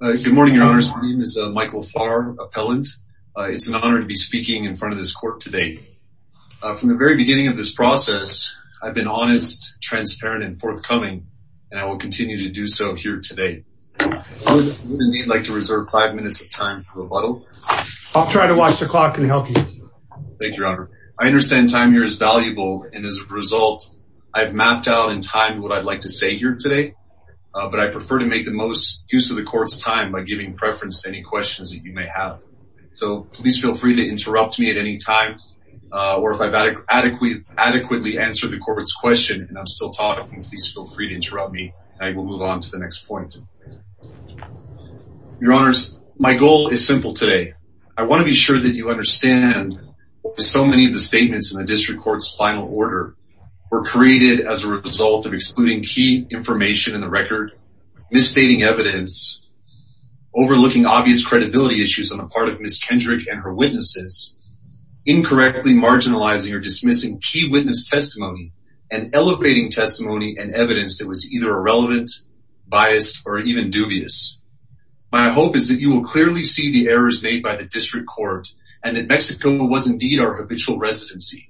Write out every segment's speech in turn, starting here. Good morning, your honors. My name is Michael Farr, appellant. It's an honor to be speaking in front of this court today From the very beginning of this process, I've been honest, transparent, and forthcoming and I will continue to do so here today Would any of you like to reserve five minutes of time for rebuttal? I'll try to watch the clock and help you Thank you, your honor. I understand time here is valuable and as a result I've mapped out in time what I'd like to say here today But I prefer to make the most use of the court's time by giving preference to any questions that you may have So, please feel free to interrupt me at any time Or if I've adequately answered the court's question, and I'm still talking, please feel free to interrupt me I will move on to the next point Your honors, my goal is simple today. I want to be sure that you understand So many of the statements in the district court's final order were created as a result of excluding key information in the record, misstating evidence, overlooking obvious credibility issues on the part of Ms. Kendrick and her witnesses, incorrectly marginalizing or dismissing key witness testimony, and elevating testimony and evidence that was either irrelevant, biased, or even dubious My hope is that you will clearly see the errors made by the district court and that Mexico was indeed our habitual residency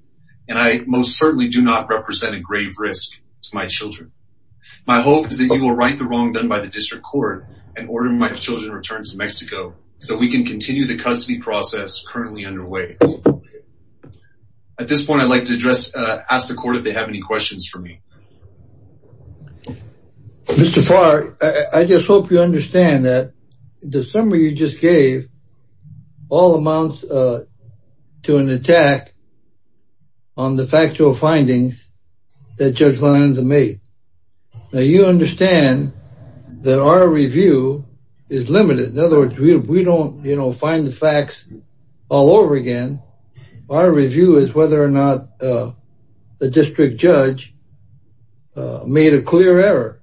My hope is that you will right the wrong done by the district court and order my children return to Mexico So we can continue the custody process currently underway At this point I'd like to address, ask the court if they have any questions for me Mr. Farr, I just hope you understand that the summary you just gave all amounts to an attack on the factual findings that Judge Lanza made Now you understand that our review is limited. In other words, we don't, you know, find the facts all over again Our review is whether or not the district judge made a clear error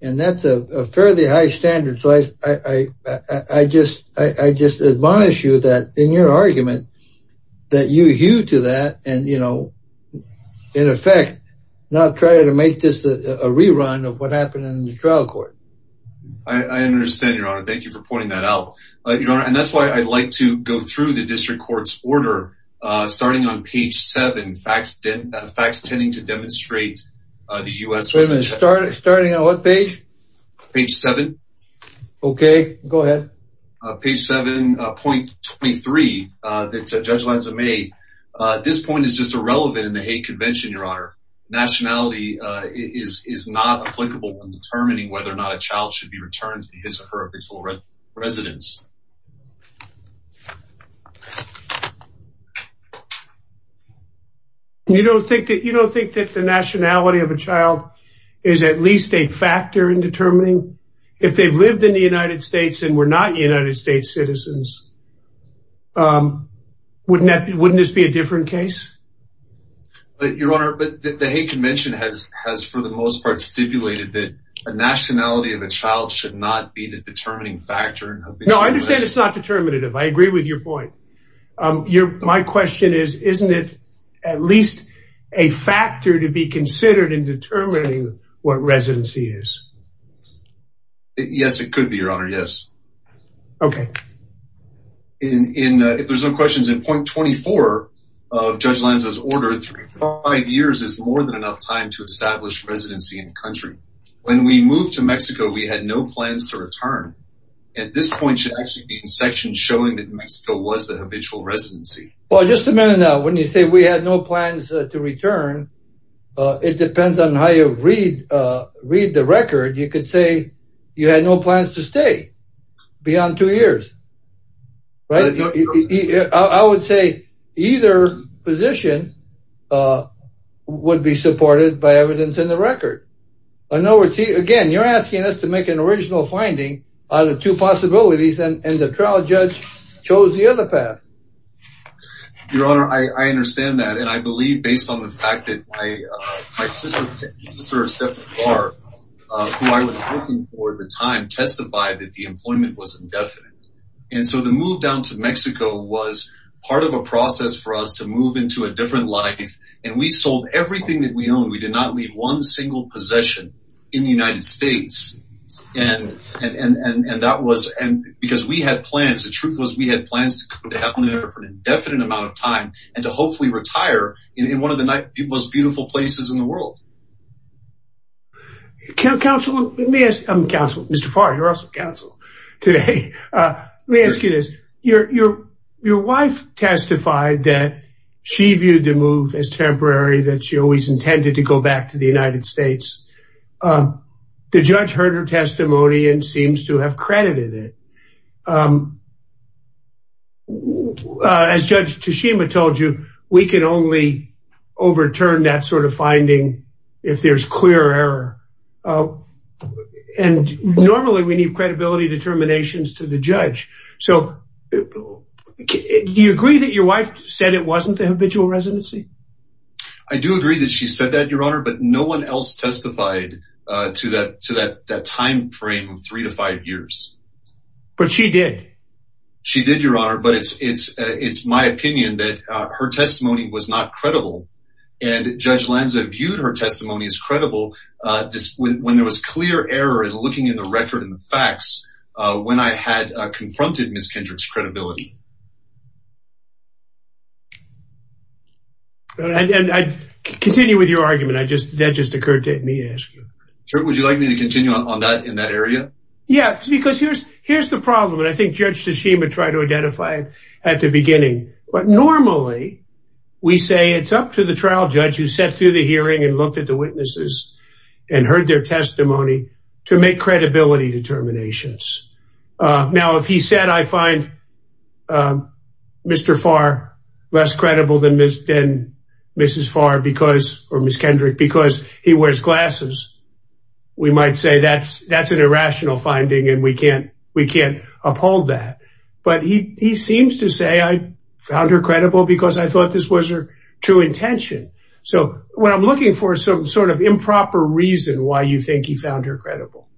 and that's a fairly high standard. So I just, I just admonish you that in your argument that you hew to that and you know in effect not try to make this a rerun of what happened in the trial court I understand your honor. Thank you for pointing that out. You know, and that's why I'd like to go through the district court's order Starting on page 7 facts, facts tending to demonstrate the U.S. Wait a minute, starting on what page? Page 7 Okay, go ahead Page 7 point 23 that Judge Lanza made This point is just irrelevant in the hate convention, your honor Nationality is not applicable in determining whether or not a child should be returned to his or her original residence You don't think that you don't think that the nationality of a child is at least a factor in determining? If they've lived in the United States and were not United States citizens Wouldn't that, wouldn't this be a different case? But your honor, but the hate convention has has for the most part stipulated that a Nationality of a child should not be the determining factor. No, I understand. It's not determinative. I agree with your point Your my question is isn't it at least a factor to be considered in determining what residency is? Yes, it could be your honor, yes. Okay In if there's no questions in point 24 of Judge Lanza's order 35 years is more than enough time to establish residency in the country. When we moved to Mexico We had no plans to return. At this point should actually be in section showing that Mexico was the habitual residency Well, just a minute now when you say we had no plans to return It depends on how you read read the record. You could say you had no plans to stay Beyond two years, right? I would say either position Would be supported by evidence in the record. I know we're seeing again You're asking us to make an original finding out of two possibilities and the trial judge chose the other path Your honor, I understand that and I believe based on the fact that I My sister Who I was looking for at the time testified that the employment was indefinite and so the move down to Mexico was Part of a process for us to move into a different life and we sold everything that we own We did not leave one single possession in the United States And and and and that was and because we had plans the truth was we had plans to happen there for an indefinite Amount of time and to hopefully retire in one of the most beautiful places in the world Counselor, let me ask, I'm counsel, Mr. Farr, you're also counsel today Let me ask you this your your wife Testified that she viewed the move as temporary that she always intended to go back to the United States The judge heard her testimony and seems to have credited it As Judge Tashima told you we can only Overturn that sort of finding if there's clear error And normally we need credibility determinations to the judge so Do you agree that your wife said it wasn't the habitual residency I Do agree that she said that your honor, but no one else testified to that to that that time frame of three to five years But she did she did your honor, but it's it's it's my opinion that her testimony was not credible and Judge Lanza viewed her testimony as credible When there was clear error and looking in the record and the facts when I had confronted Miss Kendrick's credibility And I continue with your argument I just that just occurred to me as Would you like me to continue on that in that area? Yeah, because here's here's the problem and I think judge Tashima tried to identify it at the beginning, but normally We say it's up to the trial judge who sat through the hearing and looked at the witnesses and heard their testimony to make credibility determinations Now if he said I find Mr. Farr less credible than Mrs. Farr because or Miss Kendrick because he wears glasses We might say that's that's an irrational finding and we can't we can't uphold that But he seems to say I found her credible because I thought this was her true intention So what I'm looking for some sort of improper reason why you think he found her credible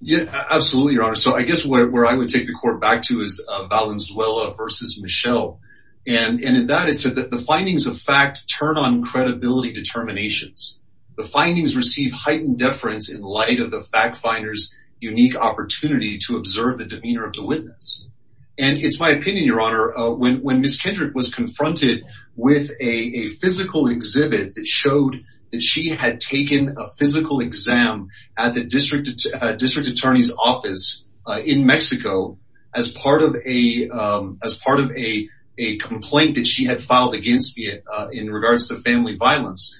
Yeah, absolutely your honor. So I guess where I would take the court back to is Valenzuela versus Michelle and That is said that the findings of fact turn on credibility determinations the findings receive heightened deference in light of the fact finders unique opportunity to observe the demeanor of the witness and It's my opinion your honor when when Miss Kendrick was confronted with a physical exhibit that showed that she had taken a physical exam at the district district attorney's office in Mexico as part of a as part of a Complaint that she had filed against me in regards to family violence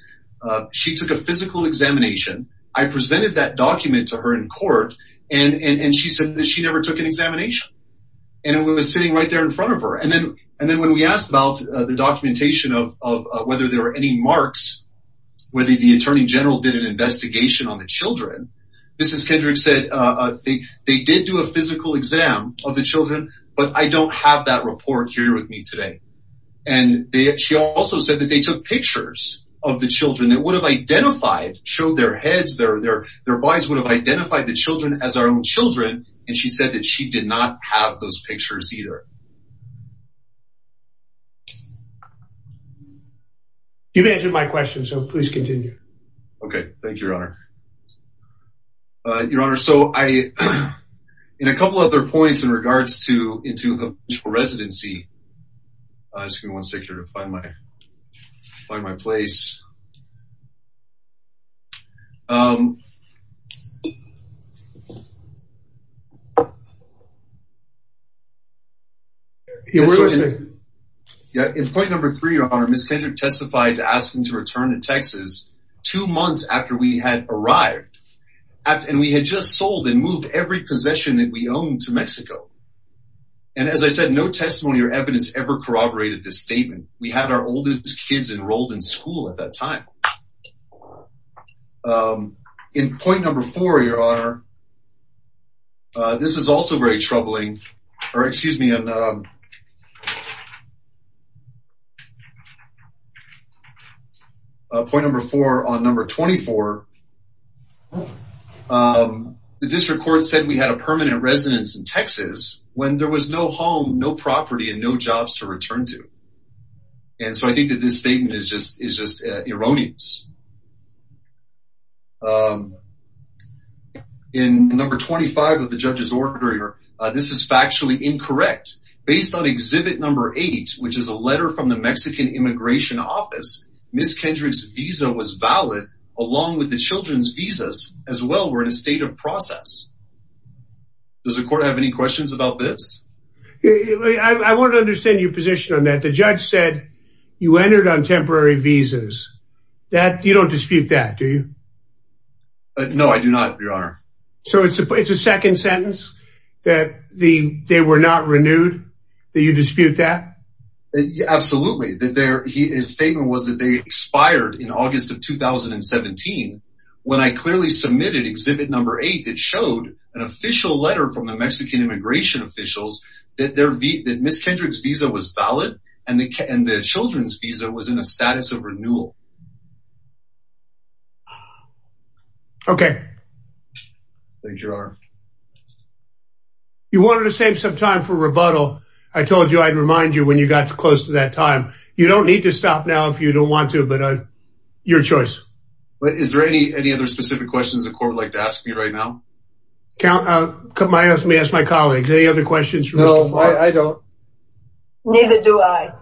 She took a physical examination I presented that document to her in court and and and she said that she never took an examination And it was sitting right there in front of her and then and then when we asked about the documentation of whether there were any marks Whether the Attorney General did an investigation on the children. Mrs. Kendrick said They they did do a physical exam of the children, but I don't have that report here with me today and They she also said that they took pictures of the children that would have identified Showed their heads their their their bodies would have identified the children as our own children And she said that she did not have those pictures either You've answered my question, so please continue. Okay. Thank you your honor Your honor so I in a couple of their points in regards to into the residency Just give me one second to find my find my place Yeah in point number three on our Miss Kendrick testified to ask him to return to Texas two months after we had arrived And we had just sold and moved every possession that we owned to Mexico And as I said no testimony or evidence ever corroborated this statement. We had our oldest kids enrolled in school at that time In point number four your honor this is also very troubling or excuse me Point number four on number 24 The district court said we had a permanent residence in Texas when there was no home no property and no jobs to return to And so I think that this statement is just is just erroneous In number 25 of the judge's order here This is factually incorrect based on exhibit number eight which is a letter from the Mexican immigration office Miss Kendrick's visa was valid along with the children's visas as well. We're in a state of process Does the court have any questions about this I Want to understand your position on that the judge said you entered on temporary visas that you don't dispute that do you? No, I do not your honor so it's a second sentence that the they were not renewed that you dispute that Absolutely that there he is statement was that they expired in August of 2017 when I clearly submitted exhibit number eight that showed an official letter from the Mexican immigration Officials that there be that miss Kendrick's visa was valid and they can the children's visa was in a status of renewal Okay, thank you are You wanted to save some time for rebuttal I told you I'd remind you when you got to close to that time You don't need to stop now if you don't want to but uh your choice But is there any any other specific questions the court would like to ask me right now? Count out come I asked me ask my colleagues any other questions. No, I don't Neither do I?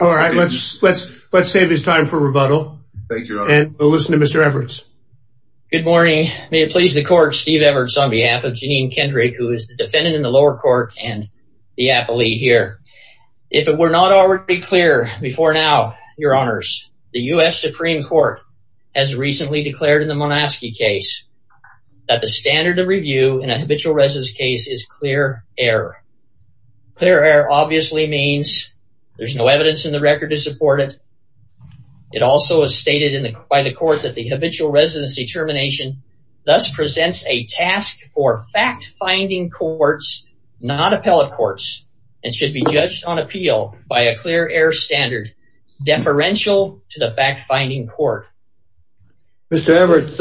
All right, let's let's let's save this time for rebuttal. Thank you and listen to mr. Everett's May it please the court Steve Everett's on behalf of Janine Kendrick, who is the defendant in the lower court and the appellee here If it were not already clear before now your honors the US Supreme Court has recently declared in the monastic case That the standard of review in a habitual residence case is clear error Clear air obviously means there's no evidence in the record to support it It also is stated in the quite a court that the habitual residency termination Thus presents a task for fact-finding courts Not appellate courts and should be judged on appeal by a clear air standard deferential to the fact-finding court Mr. Everett,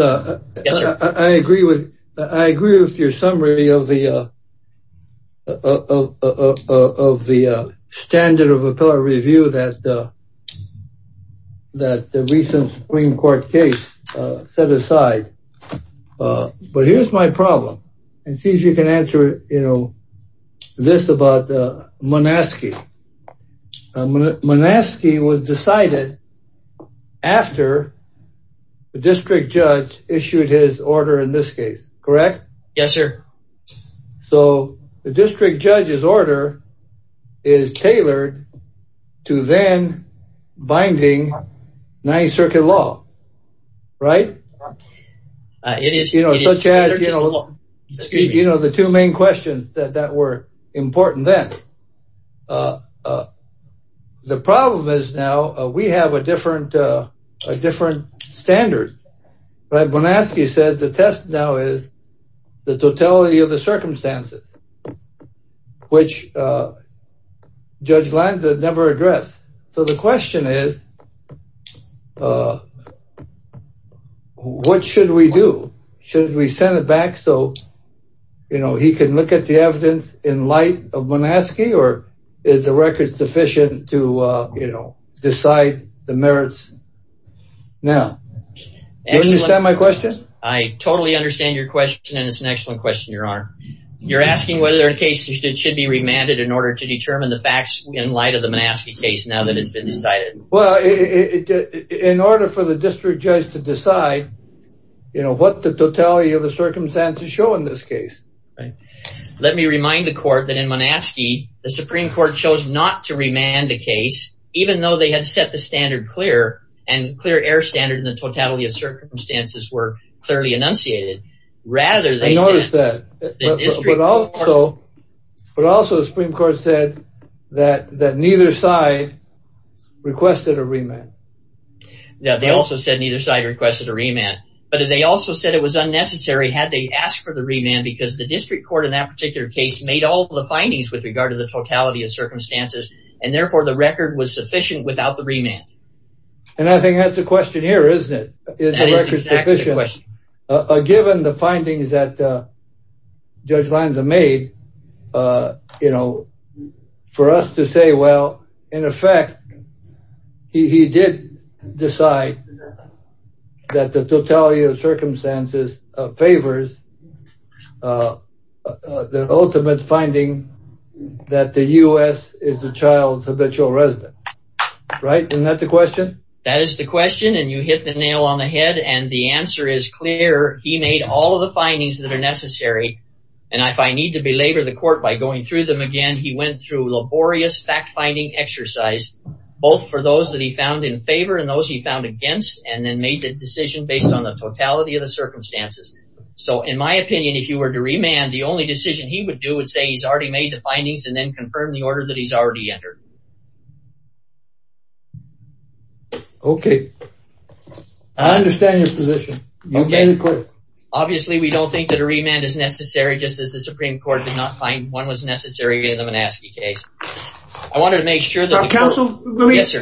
I agree with I agree with your summary of the Of the standard of a power review that The recent Supreme Court case set aside But here's my problem and sees you can answer, you know this about monastic Monastic he was decided after The district judge issued his order in this case, correct? Yes, sir so the district judge's order is tailored to then Binding Ninth Circuit law, right? It is, you know, such as you know, you know the two main questions that that were important then The problem is now we have a different different standard But I'm gonna ask you said the test now is the totality of the circumstances which Judge Lanza never addressed. So the question is What should we do should we send it back so you know, he can look at the evidence in light of monastic or is the record sufficient to you know, decide the merits now Is that my question? I totally understand your question and it's an excellent question You're asking whether in case it should be remanded in order to determine the facts in light of the monastic case now that it's been decided well in order for the district judge to decide You know what the totality of the circumstances show in this case, right? Let me remind the court that in monastic the Supreme Court chose not to remand the case Even though they had set the standard clear and clear air standard in the totality of circumstances were clearly enunciated Rather they noticed that But also But also the Supreme Court said that that neither side requested a remand Now they also said neither side requested a remand but they also said it was unnecessary had they asked for the remand because the district court in that particular case made all the findings with regard to the totality of circumstances and therefore the record was sufficient without the remand and I think that's a question here, isn't it? Given the findings that Judge Lanza made You know For us to say well in effect He did decide That the totality of circumstances favors The ultimate finding That the US is the child's habitual resident Right, isn't that the question? That is the question and you hit the nail on the head and the answer is clear He made all of the findings that are necessary and if I need to belabor the court by going through them again He went through laborious fact-finding exercise both for those that he found in favor and those he found against and then made the decision based on the totality of the Circumstances so in my opinion if you were to remand the only decision he would do would say he's already made the findings and then Confirm the order that he's already entered Okay Understand your position Obviously, we don't think that a remand is necessary just as the Supreme Court did not find one was necessary in the Manassas case I Wanted to make sure that counsel Let me ask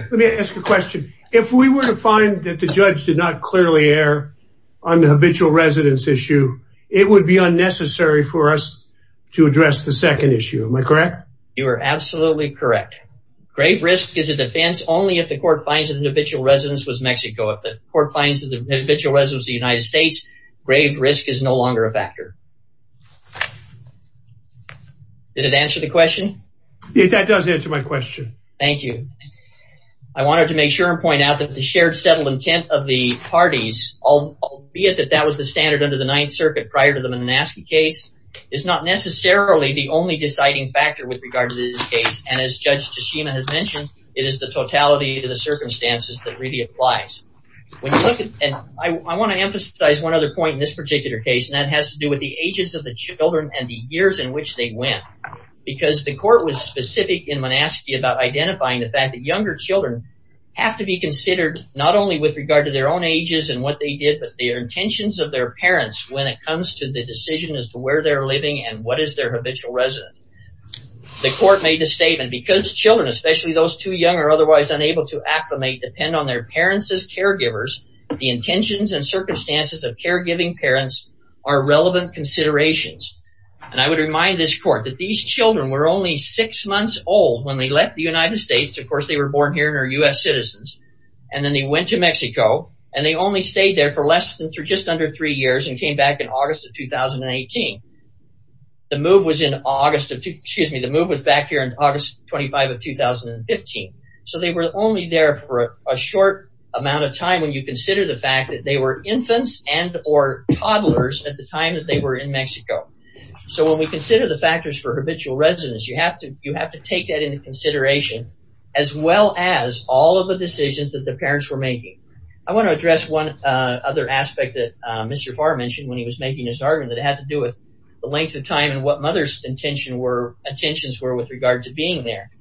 you a question if we were to find that the judge did not clearly err on the habitual residents issue It would be unnecessary for us to address the second issue. Am I correct? You are absolutely correct Grave risk is a defense Only if the court finds an individual residence was Mexico if the court finds that the individual residence the United States Grave risk is no longer a factor Did it answer the question Yeah, that does answer my question. Thank you. I Wanted to make sure and point out that the shared settled intent of the parties I'll be it that that was the standard under the Ninth Circuit prior to the Manassas case is not Necessarily the only deciding factor with regard to this case and as judge Tashima has mentioned it is the totality of the circumstances that really applies when you look at and I want to emphasize one other point in this particular case and that has to do with the ages of the children and the years in Which they went because the court was specific in Manassas about identifying the fact that younger children Have to be considered not only with regard to their own ages and what they did Intentions of their parents when it comes to the decision as to where they're living and what is their habitual resident The court made a statement because children especially those too young or otherwise unable to acclimate depend on their parents as caregivers The intentions and circumstances of caregiving parents are relevant considerations And I would remind this court that these children were only six months old when they left the United States Of course Citizens and then they went to Mexico and they only stayed there for less than through just under three years and came back in August of 2018 The move was in August of excuse me. The move was back here in August 25 of 2015 so they were only there for a short amount of time when you consider the fact that they were infants and or Toddlers at the time that they were in Mexico So when we consider the factors for habitual residents, you have to you have to take that into consideration as Well as all of the decisions that the parents were making I want to address one other aspect that mr Farr mentioned when he was making his argument that it had to do with the length of time and what mother's Intention were attentions were with regard to being there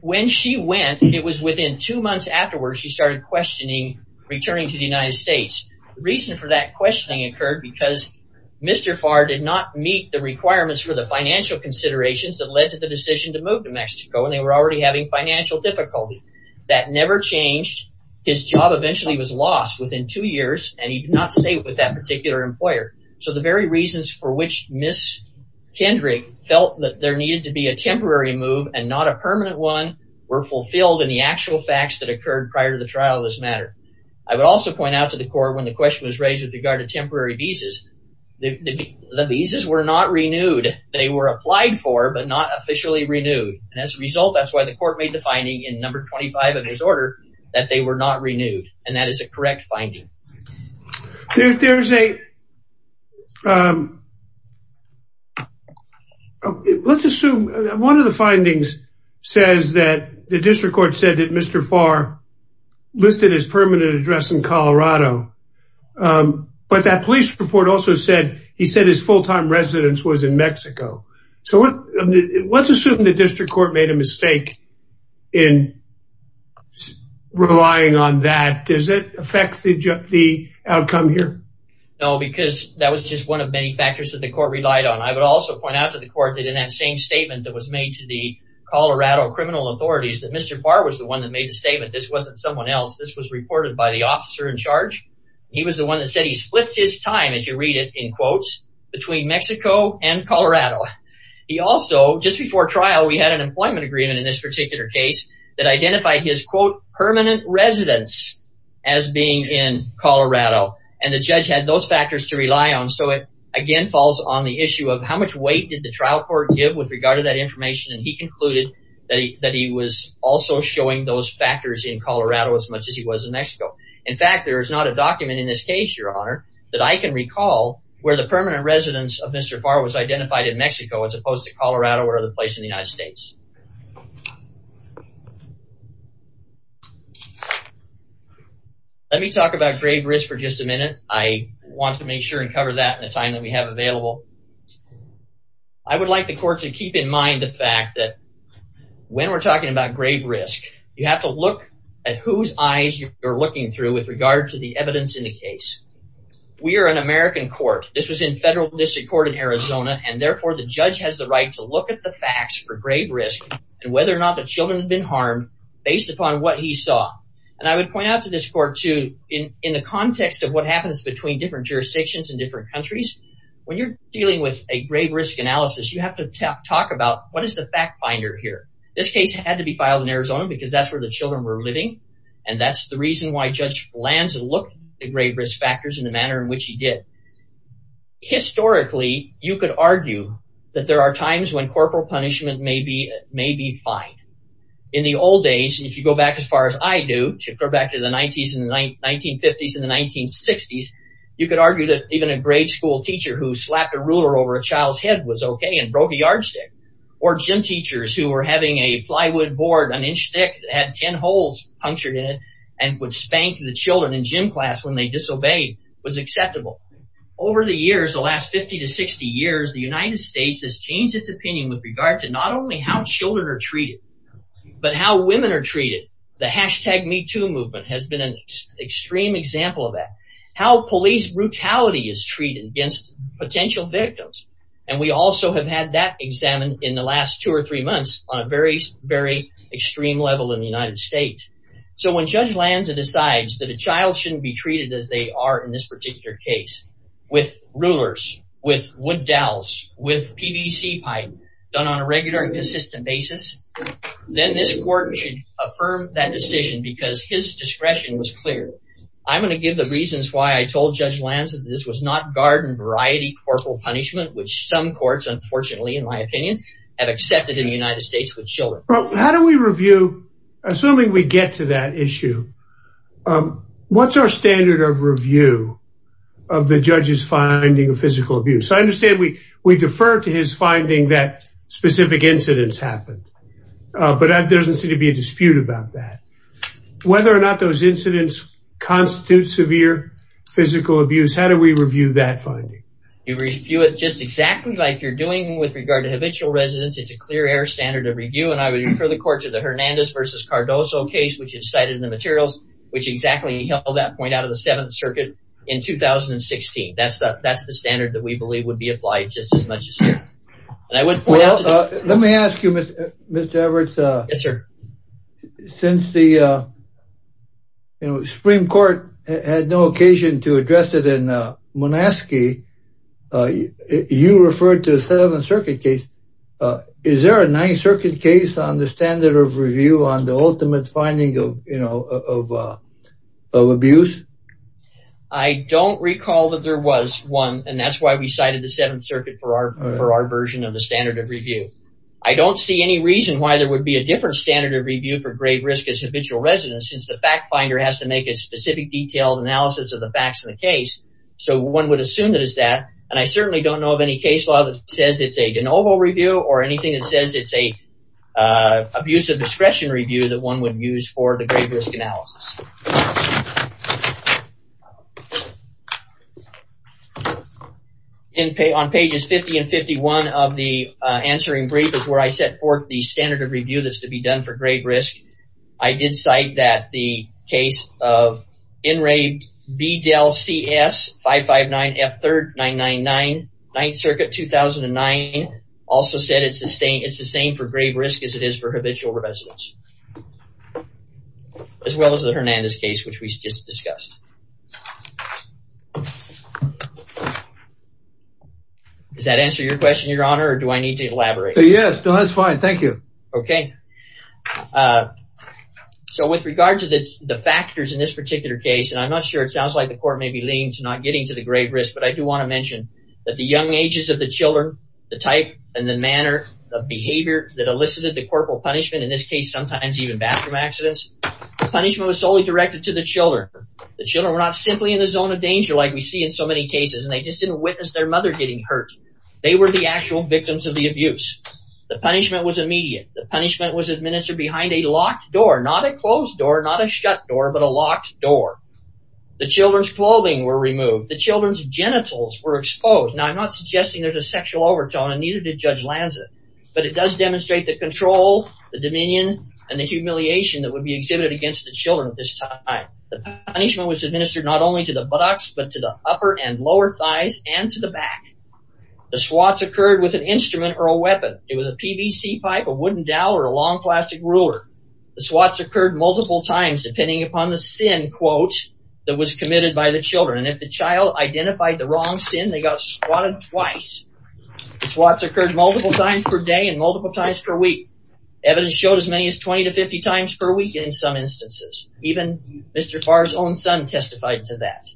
When she went it was within two months afterwards. She started questioning Returning to the United States the reason for that questioning occurred because Mr. Farr did not meet the requirements for the financial considerations that led to the decision to move to Mexico and they were already having financial Difficulty that never changed his job eventually was lost within two years and he did not stay with that particular employer So the very reasons for which miss Kendrick felt that there needed to be a temporary move and not a permanent one Fulfilled in the actual facts that occurred prior to the trial of this matter I would also point out to the court when the question was raised with regard to temporary visas The visas were not renewed. They were applied for but not officially renewed and as a result That's why the court made the finding in number 25 of his order that they were not renewed and that is a correct finding there's a Let's assume one of the findings says that The district court said that Mr. Farr Listed his permanent address in Colorado But that police report also said he said his full-time residence was in Mexico. So what? Let's assume the district court made a mistake in Relying on that does it affect the outcome here? No Because that was just one of many factors that the court relied on I would also point out to the court that in that same That was made to the Colorado criminal authorities that mr. Farr was the one that made a statement. This wasn't someone else This was reported by the officer in charge He was the one that said he splits his time as you read it in quotes between Mexico and Colorado He also just before trial we had an employment agreement in this particular case that identified his quote permanent residence as Being in Colorado and the judge had those factors to rely on so it again falls on the issue of how much weight did the? Trial court give with regard to that information and he concluded that he was also showing those factors in Colorado as much as he was In Mexico. In fact, there is not a document in this case your honor that I can recall where the permanent residence of mr Farr was identified in Mexico as opposed to Colorado or other place in the United States Let me talk about grave risk for just a minute I want to make sure and cover that in the time that we have available I Would like the court to keep in mind the fact that When we're talking about grave risk, you have to look at whose eyes you are looking through with regard to the evidence in the case We are an American court This was in federal district court in Arizona And therefore the judge has the right to look at the facts for grave risk and whether or not the children have been harmed Based upon what he saw and I would point out to this court to in in the context of what happens between different Jurisdictions in different countries when you're dealing with a grave risk analysis, you have to talk about what is the fact finder here? This case had to be filed in Arizona because that's where the children were living And that's the reason why judge lands and look at grave risk factors in the manner in which he did Historically you could argue that there are times when corporal punishment may be may be fine in The old days if you go back as far as I do to go back to the 90s in the 1950s in the 1960s you could argue that even a grade school teacher who slapped a ruler over a child's head was okay and broke a yardstick or Gym teachers who were having a plywood board an inch thick had ten holes Punctured in it and would spank the children in gym class when they disobeyed was acceptable Over the years the last 50 to 60 years the United States has changed its opinion with regard to not only how children are treated But how women are treated the hashtag me too movement has been an extreme example of that How police brutality is treated against potential victims? And we also have had that examined in the last two or three months on a very very extreme level in the United States So when judge Lanza decides that a child shouldn't be treated as they are in this particular case With rulers with wood dowels with PVC pipe done on a regular and consistent basis Then this court should affirm that decision because his discretion was clear I'm gonna give the reasons why I told judge Lanza This was not garden variety corporal punishment, which some courts unfortunately in my opinion have accepted in the United States with children How do we review? Assuming we get to that issue What's our standard of review of the judge's finding of physical abuse? I understand we we defer to his finding that specific incidents happened But that doesn't seem to be a dispute about that Those incidents constitute severe physical abuse How do we review that finding you review it just exactly like you're doing with regard to habitual residents It's a clear air standard of review and I would refer the court to the Hernandez versus Cardozo case Which is cited in the materials, which exactly held that point out of the Seventh Circuit in 2016 that's that that's the standard that we believe would be applied just as much as Let me ask you mr. Everett, sir Since the You know Supreme Court had no occasion to address it in Monaskey You referred to the Seventh Circuit case Is there a Ninth Circuit case on the standard of review on the ultimate finding of you know of? abuse I Don't recall that there was one and that's why we cited the Seventh Circuit for our for our version of the standard of review I don't see any reason why there would be a different standard of review for great risk as habitual residents since the fact finder has To make a specific detailed analysis of the facts in the case So one would assume that is that and I certainly don't know of any case law that says it's a de novo review or anything that says it's a Abusive discretion review that one would use for the great risk analysis On Pages 50 and 51 of the Answering brief is where I set forth the standard of review. That's to be done for great risk I did cite that the case of enraged B del CS 559 F 3rd 999 9th Circuit 2009 Also said it's a stain. It's the same for grave risk as it is for habitual residents As well as the Hernandez case which we just discussed Does that answer your question your honor or do I need to elaborate? Yes. No, that's fine. Thank you. Okay So with regard to the the factors in this particular case And I'm not sure it sounds like the court may be lean to not getting to the grave risk but I do want to mention that the young ages of the children the type and the manner of Punishment in this case sometimes even bathroom accidents the punishment was solely directed to the children The children were not simply in the zone of danger like we see in so many cases And they just didn't witness their mother getting hurt They were the actual victims of the abuse the punishment was immediate the punishment was administered behind a locked door Not a closed door not a shut door, but a locked door The children's clothing were removed the children's genitals were exposed now I'm not suggesting there's a sexual overtone and neither did judge Lanza, but it does demonstrate the control Dominion and the humiliation that would be exhibited against the children at this time I the punishment was administered not only to the buttocks but to the upper and lower thighs and to the back The swats occurred with an instrument or a weapon it was a PVC pipe a wooden dowel or a long plastic ruler The swats occurred multiple times depending upon the sin quotes that was committed by the children and if the child Identified the wrong sin they got squatted twice Swats occurred multiple times per day and multiple times per week Evidence showed as many as 20 to 50 times per week in some instances even mr. Farr's own son testified to that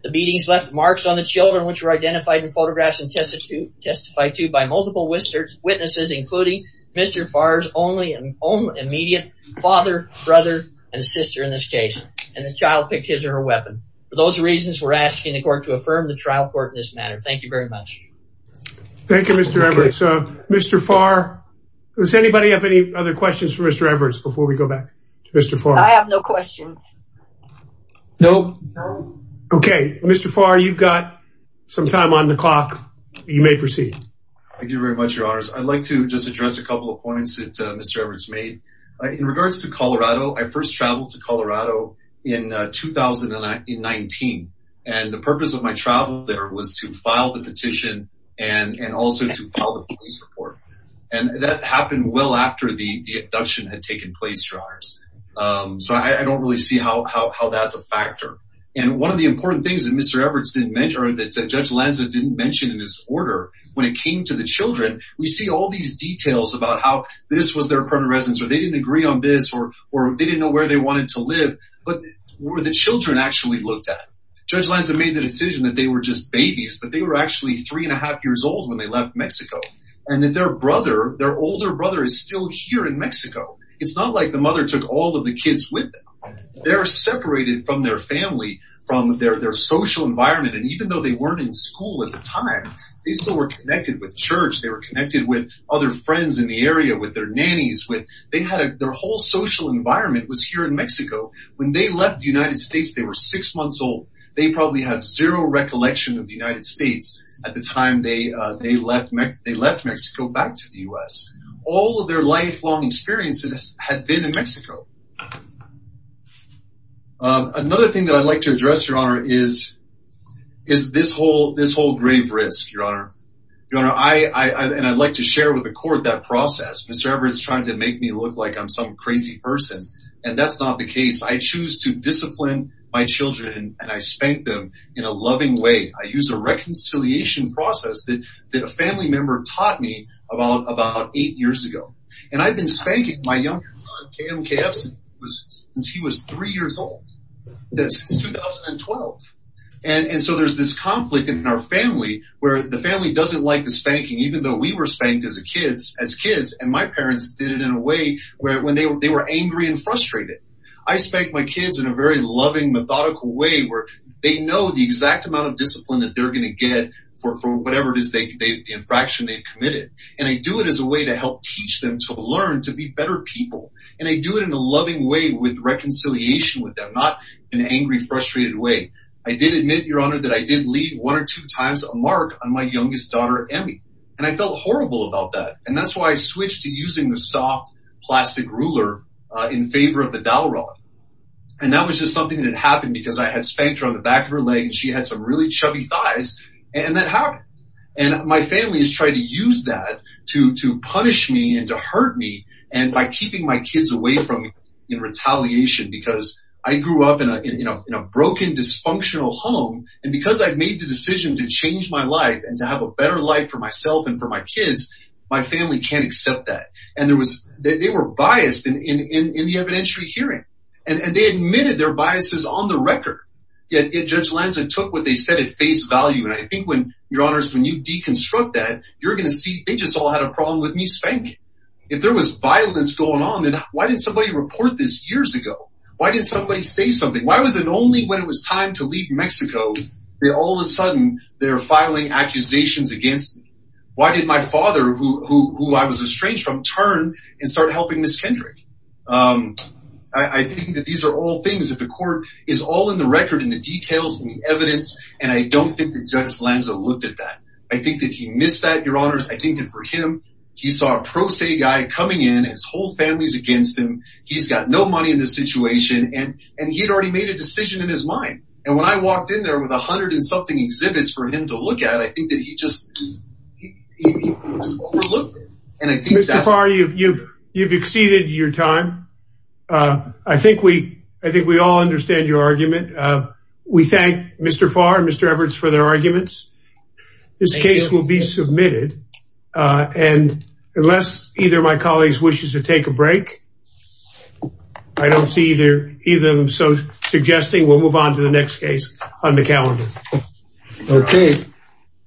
the beatings left marks on the children which were identified in photographs and tested to testify to by multiple Witnesses including mr. Farr's only and only immediate father brother and sister in this case and the child picked his or her weapon for those reasons We're asking the court to affirm the trial court in this matter. Thank you very much Thank You. Mr. Everett. So mr. Farr Does anybody have any other questions for mr. Everett's before we go back to mr. Farr? I have no questions No Okay, mr. Farr. You've got some time on the clock. You may proceed. Thank you very much your honors I'd like to just address a couple of points that mr. Everett's made in regards to Colorado. I first traveled to Colorado in 2019 and the purpose of my travel there was to file the petition and Also to follow the police report and that happened well after the the abduction had taken place your honors So I don't really see how that's a factor and one of the important things that mr Everett's didn't mention or that judge Lanza didn't mention in his order when it came to the children We see all these details about how this was their permanent residence or they didn't agree on this or or they didn't know where they Wanted to live but were the children actually looked at judge lines have made the decision that they were just babies But they were actually three and a half years old when they left Mexico and that their brother their older brother is still here in Mexico, it's not like the mother took all of the kids with them They're separated from their family from their their social environment And even though they weren't in school at the time, they still were connected with church They were connected with other friends in the area with their nannies with they had their whole social Environment was here in Mexico when they left the United States. They were six months old They probably had zero recollection of the United States at the time They they left me they left Mexico back to the u.s. All of their lifelong experiences had been in Mexico Another thing that I'd like to address your honor is is This whole this whole grave risk your honor. You know, I and I'd like to share with the court that process Mr. Everett's trying to make me look like I'm some crazy person and that's not the case I choose to discipline my children and I spanked them in a loving way I use a reconciliation process that that a family member taught me about about eight years ago And I've been spanking my youngest son. Km kfc was since he was three years old 2012 and and so there's this conflict in our family where the family doesn't like the spanking even though we were spanked as a kids as Kids and my parents did it in a way where when they were they were angry and frustrated I spanked my kids in a very loving methodical way where they know the exact amount of discipline that they're gonna get For whatever it is They gave the infraction they've committed and I do it as a way to help teach them to learn to be better people and I Do it in a loving way with reconciliation with them not an angry frustrated way I did admit your honor that I did lead one or two times a mark on my youngest daughter And I felt horrible about that and that's why I switched to using the soft plastic ruler in favor of the dowel rod And that was just something that happened because I had spanked her on the back of her leg and she had some really chubby thighs and that happened and My family has tried to use that to to punish me and to hurt me and by keeping my kids away from me in Retaliation because I grew up in a you know Broken dysfunctional home and because I've made the decision to change my life and to have a better life for myself and for my kids My family can't accept that and there was they were biased in in in the evidentiary hearing and they admitted their biases on the record Yet it judge Lanza took what they said at face value And I think when your honors when you deconstruct that you're gonna see they just all had a problem with me spanking If there was violence going on then why didn't somebody report this years ago? Why did somebody say something? Why was it only when it was time to leave Mexico? They all of a sudden they're filing accusations against me Why did my father who I was estranged from turn and start helping miss Kendrick? I Think that these are all things that the court is all in the record in the details and the evidence And I don't think the judge Lanza looked at that. I think that he missed that your honors I think that for him he saw a pro se guy coming in his whole family's against him He's got no money in this situation and and he'd already made a decision in his mind and when I walked in there with a hundred and something exhibits for him to look at I think that he just Are you you've you've exceeded your time I think we I think we all understand your argument. We thank mr. Far and mr. Everett's for their arguments This case will be submitted And unless either my colleagues wishes to take a break I don't see either either of them. So suggesting we'll move on to the next case on the calendar Okay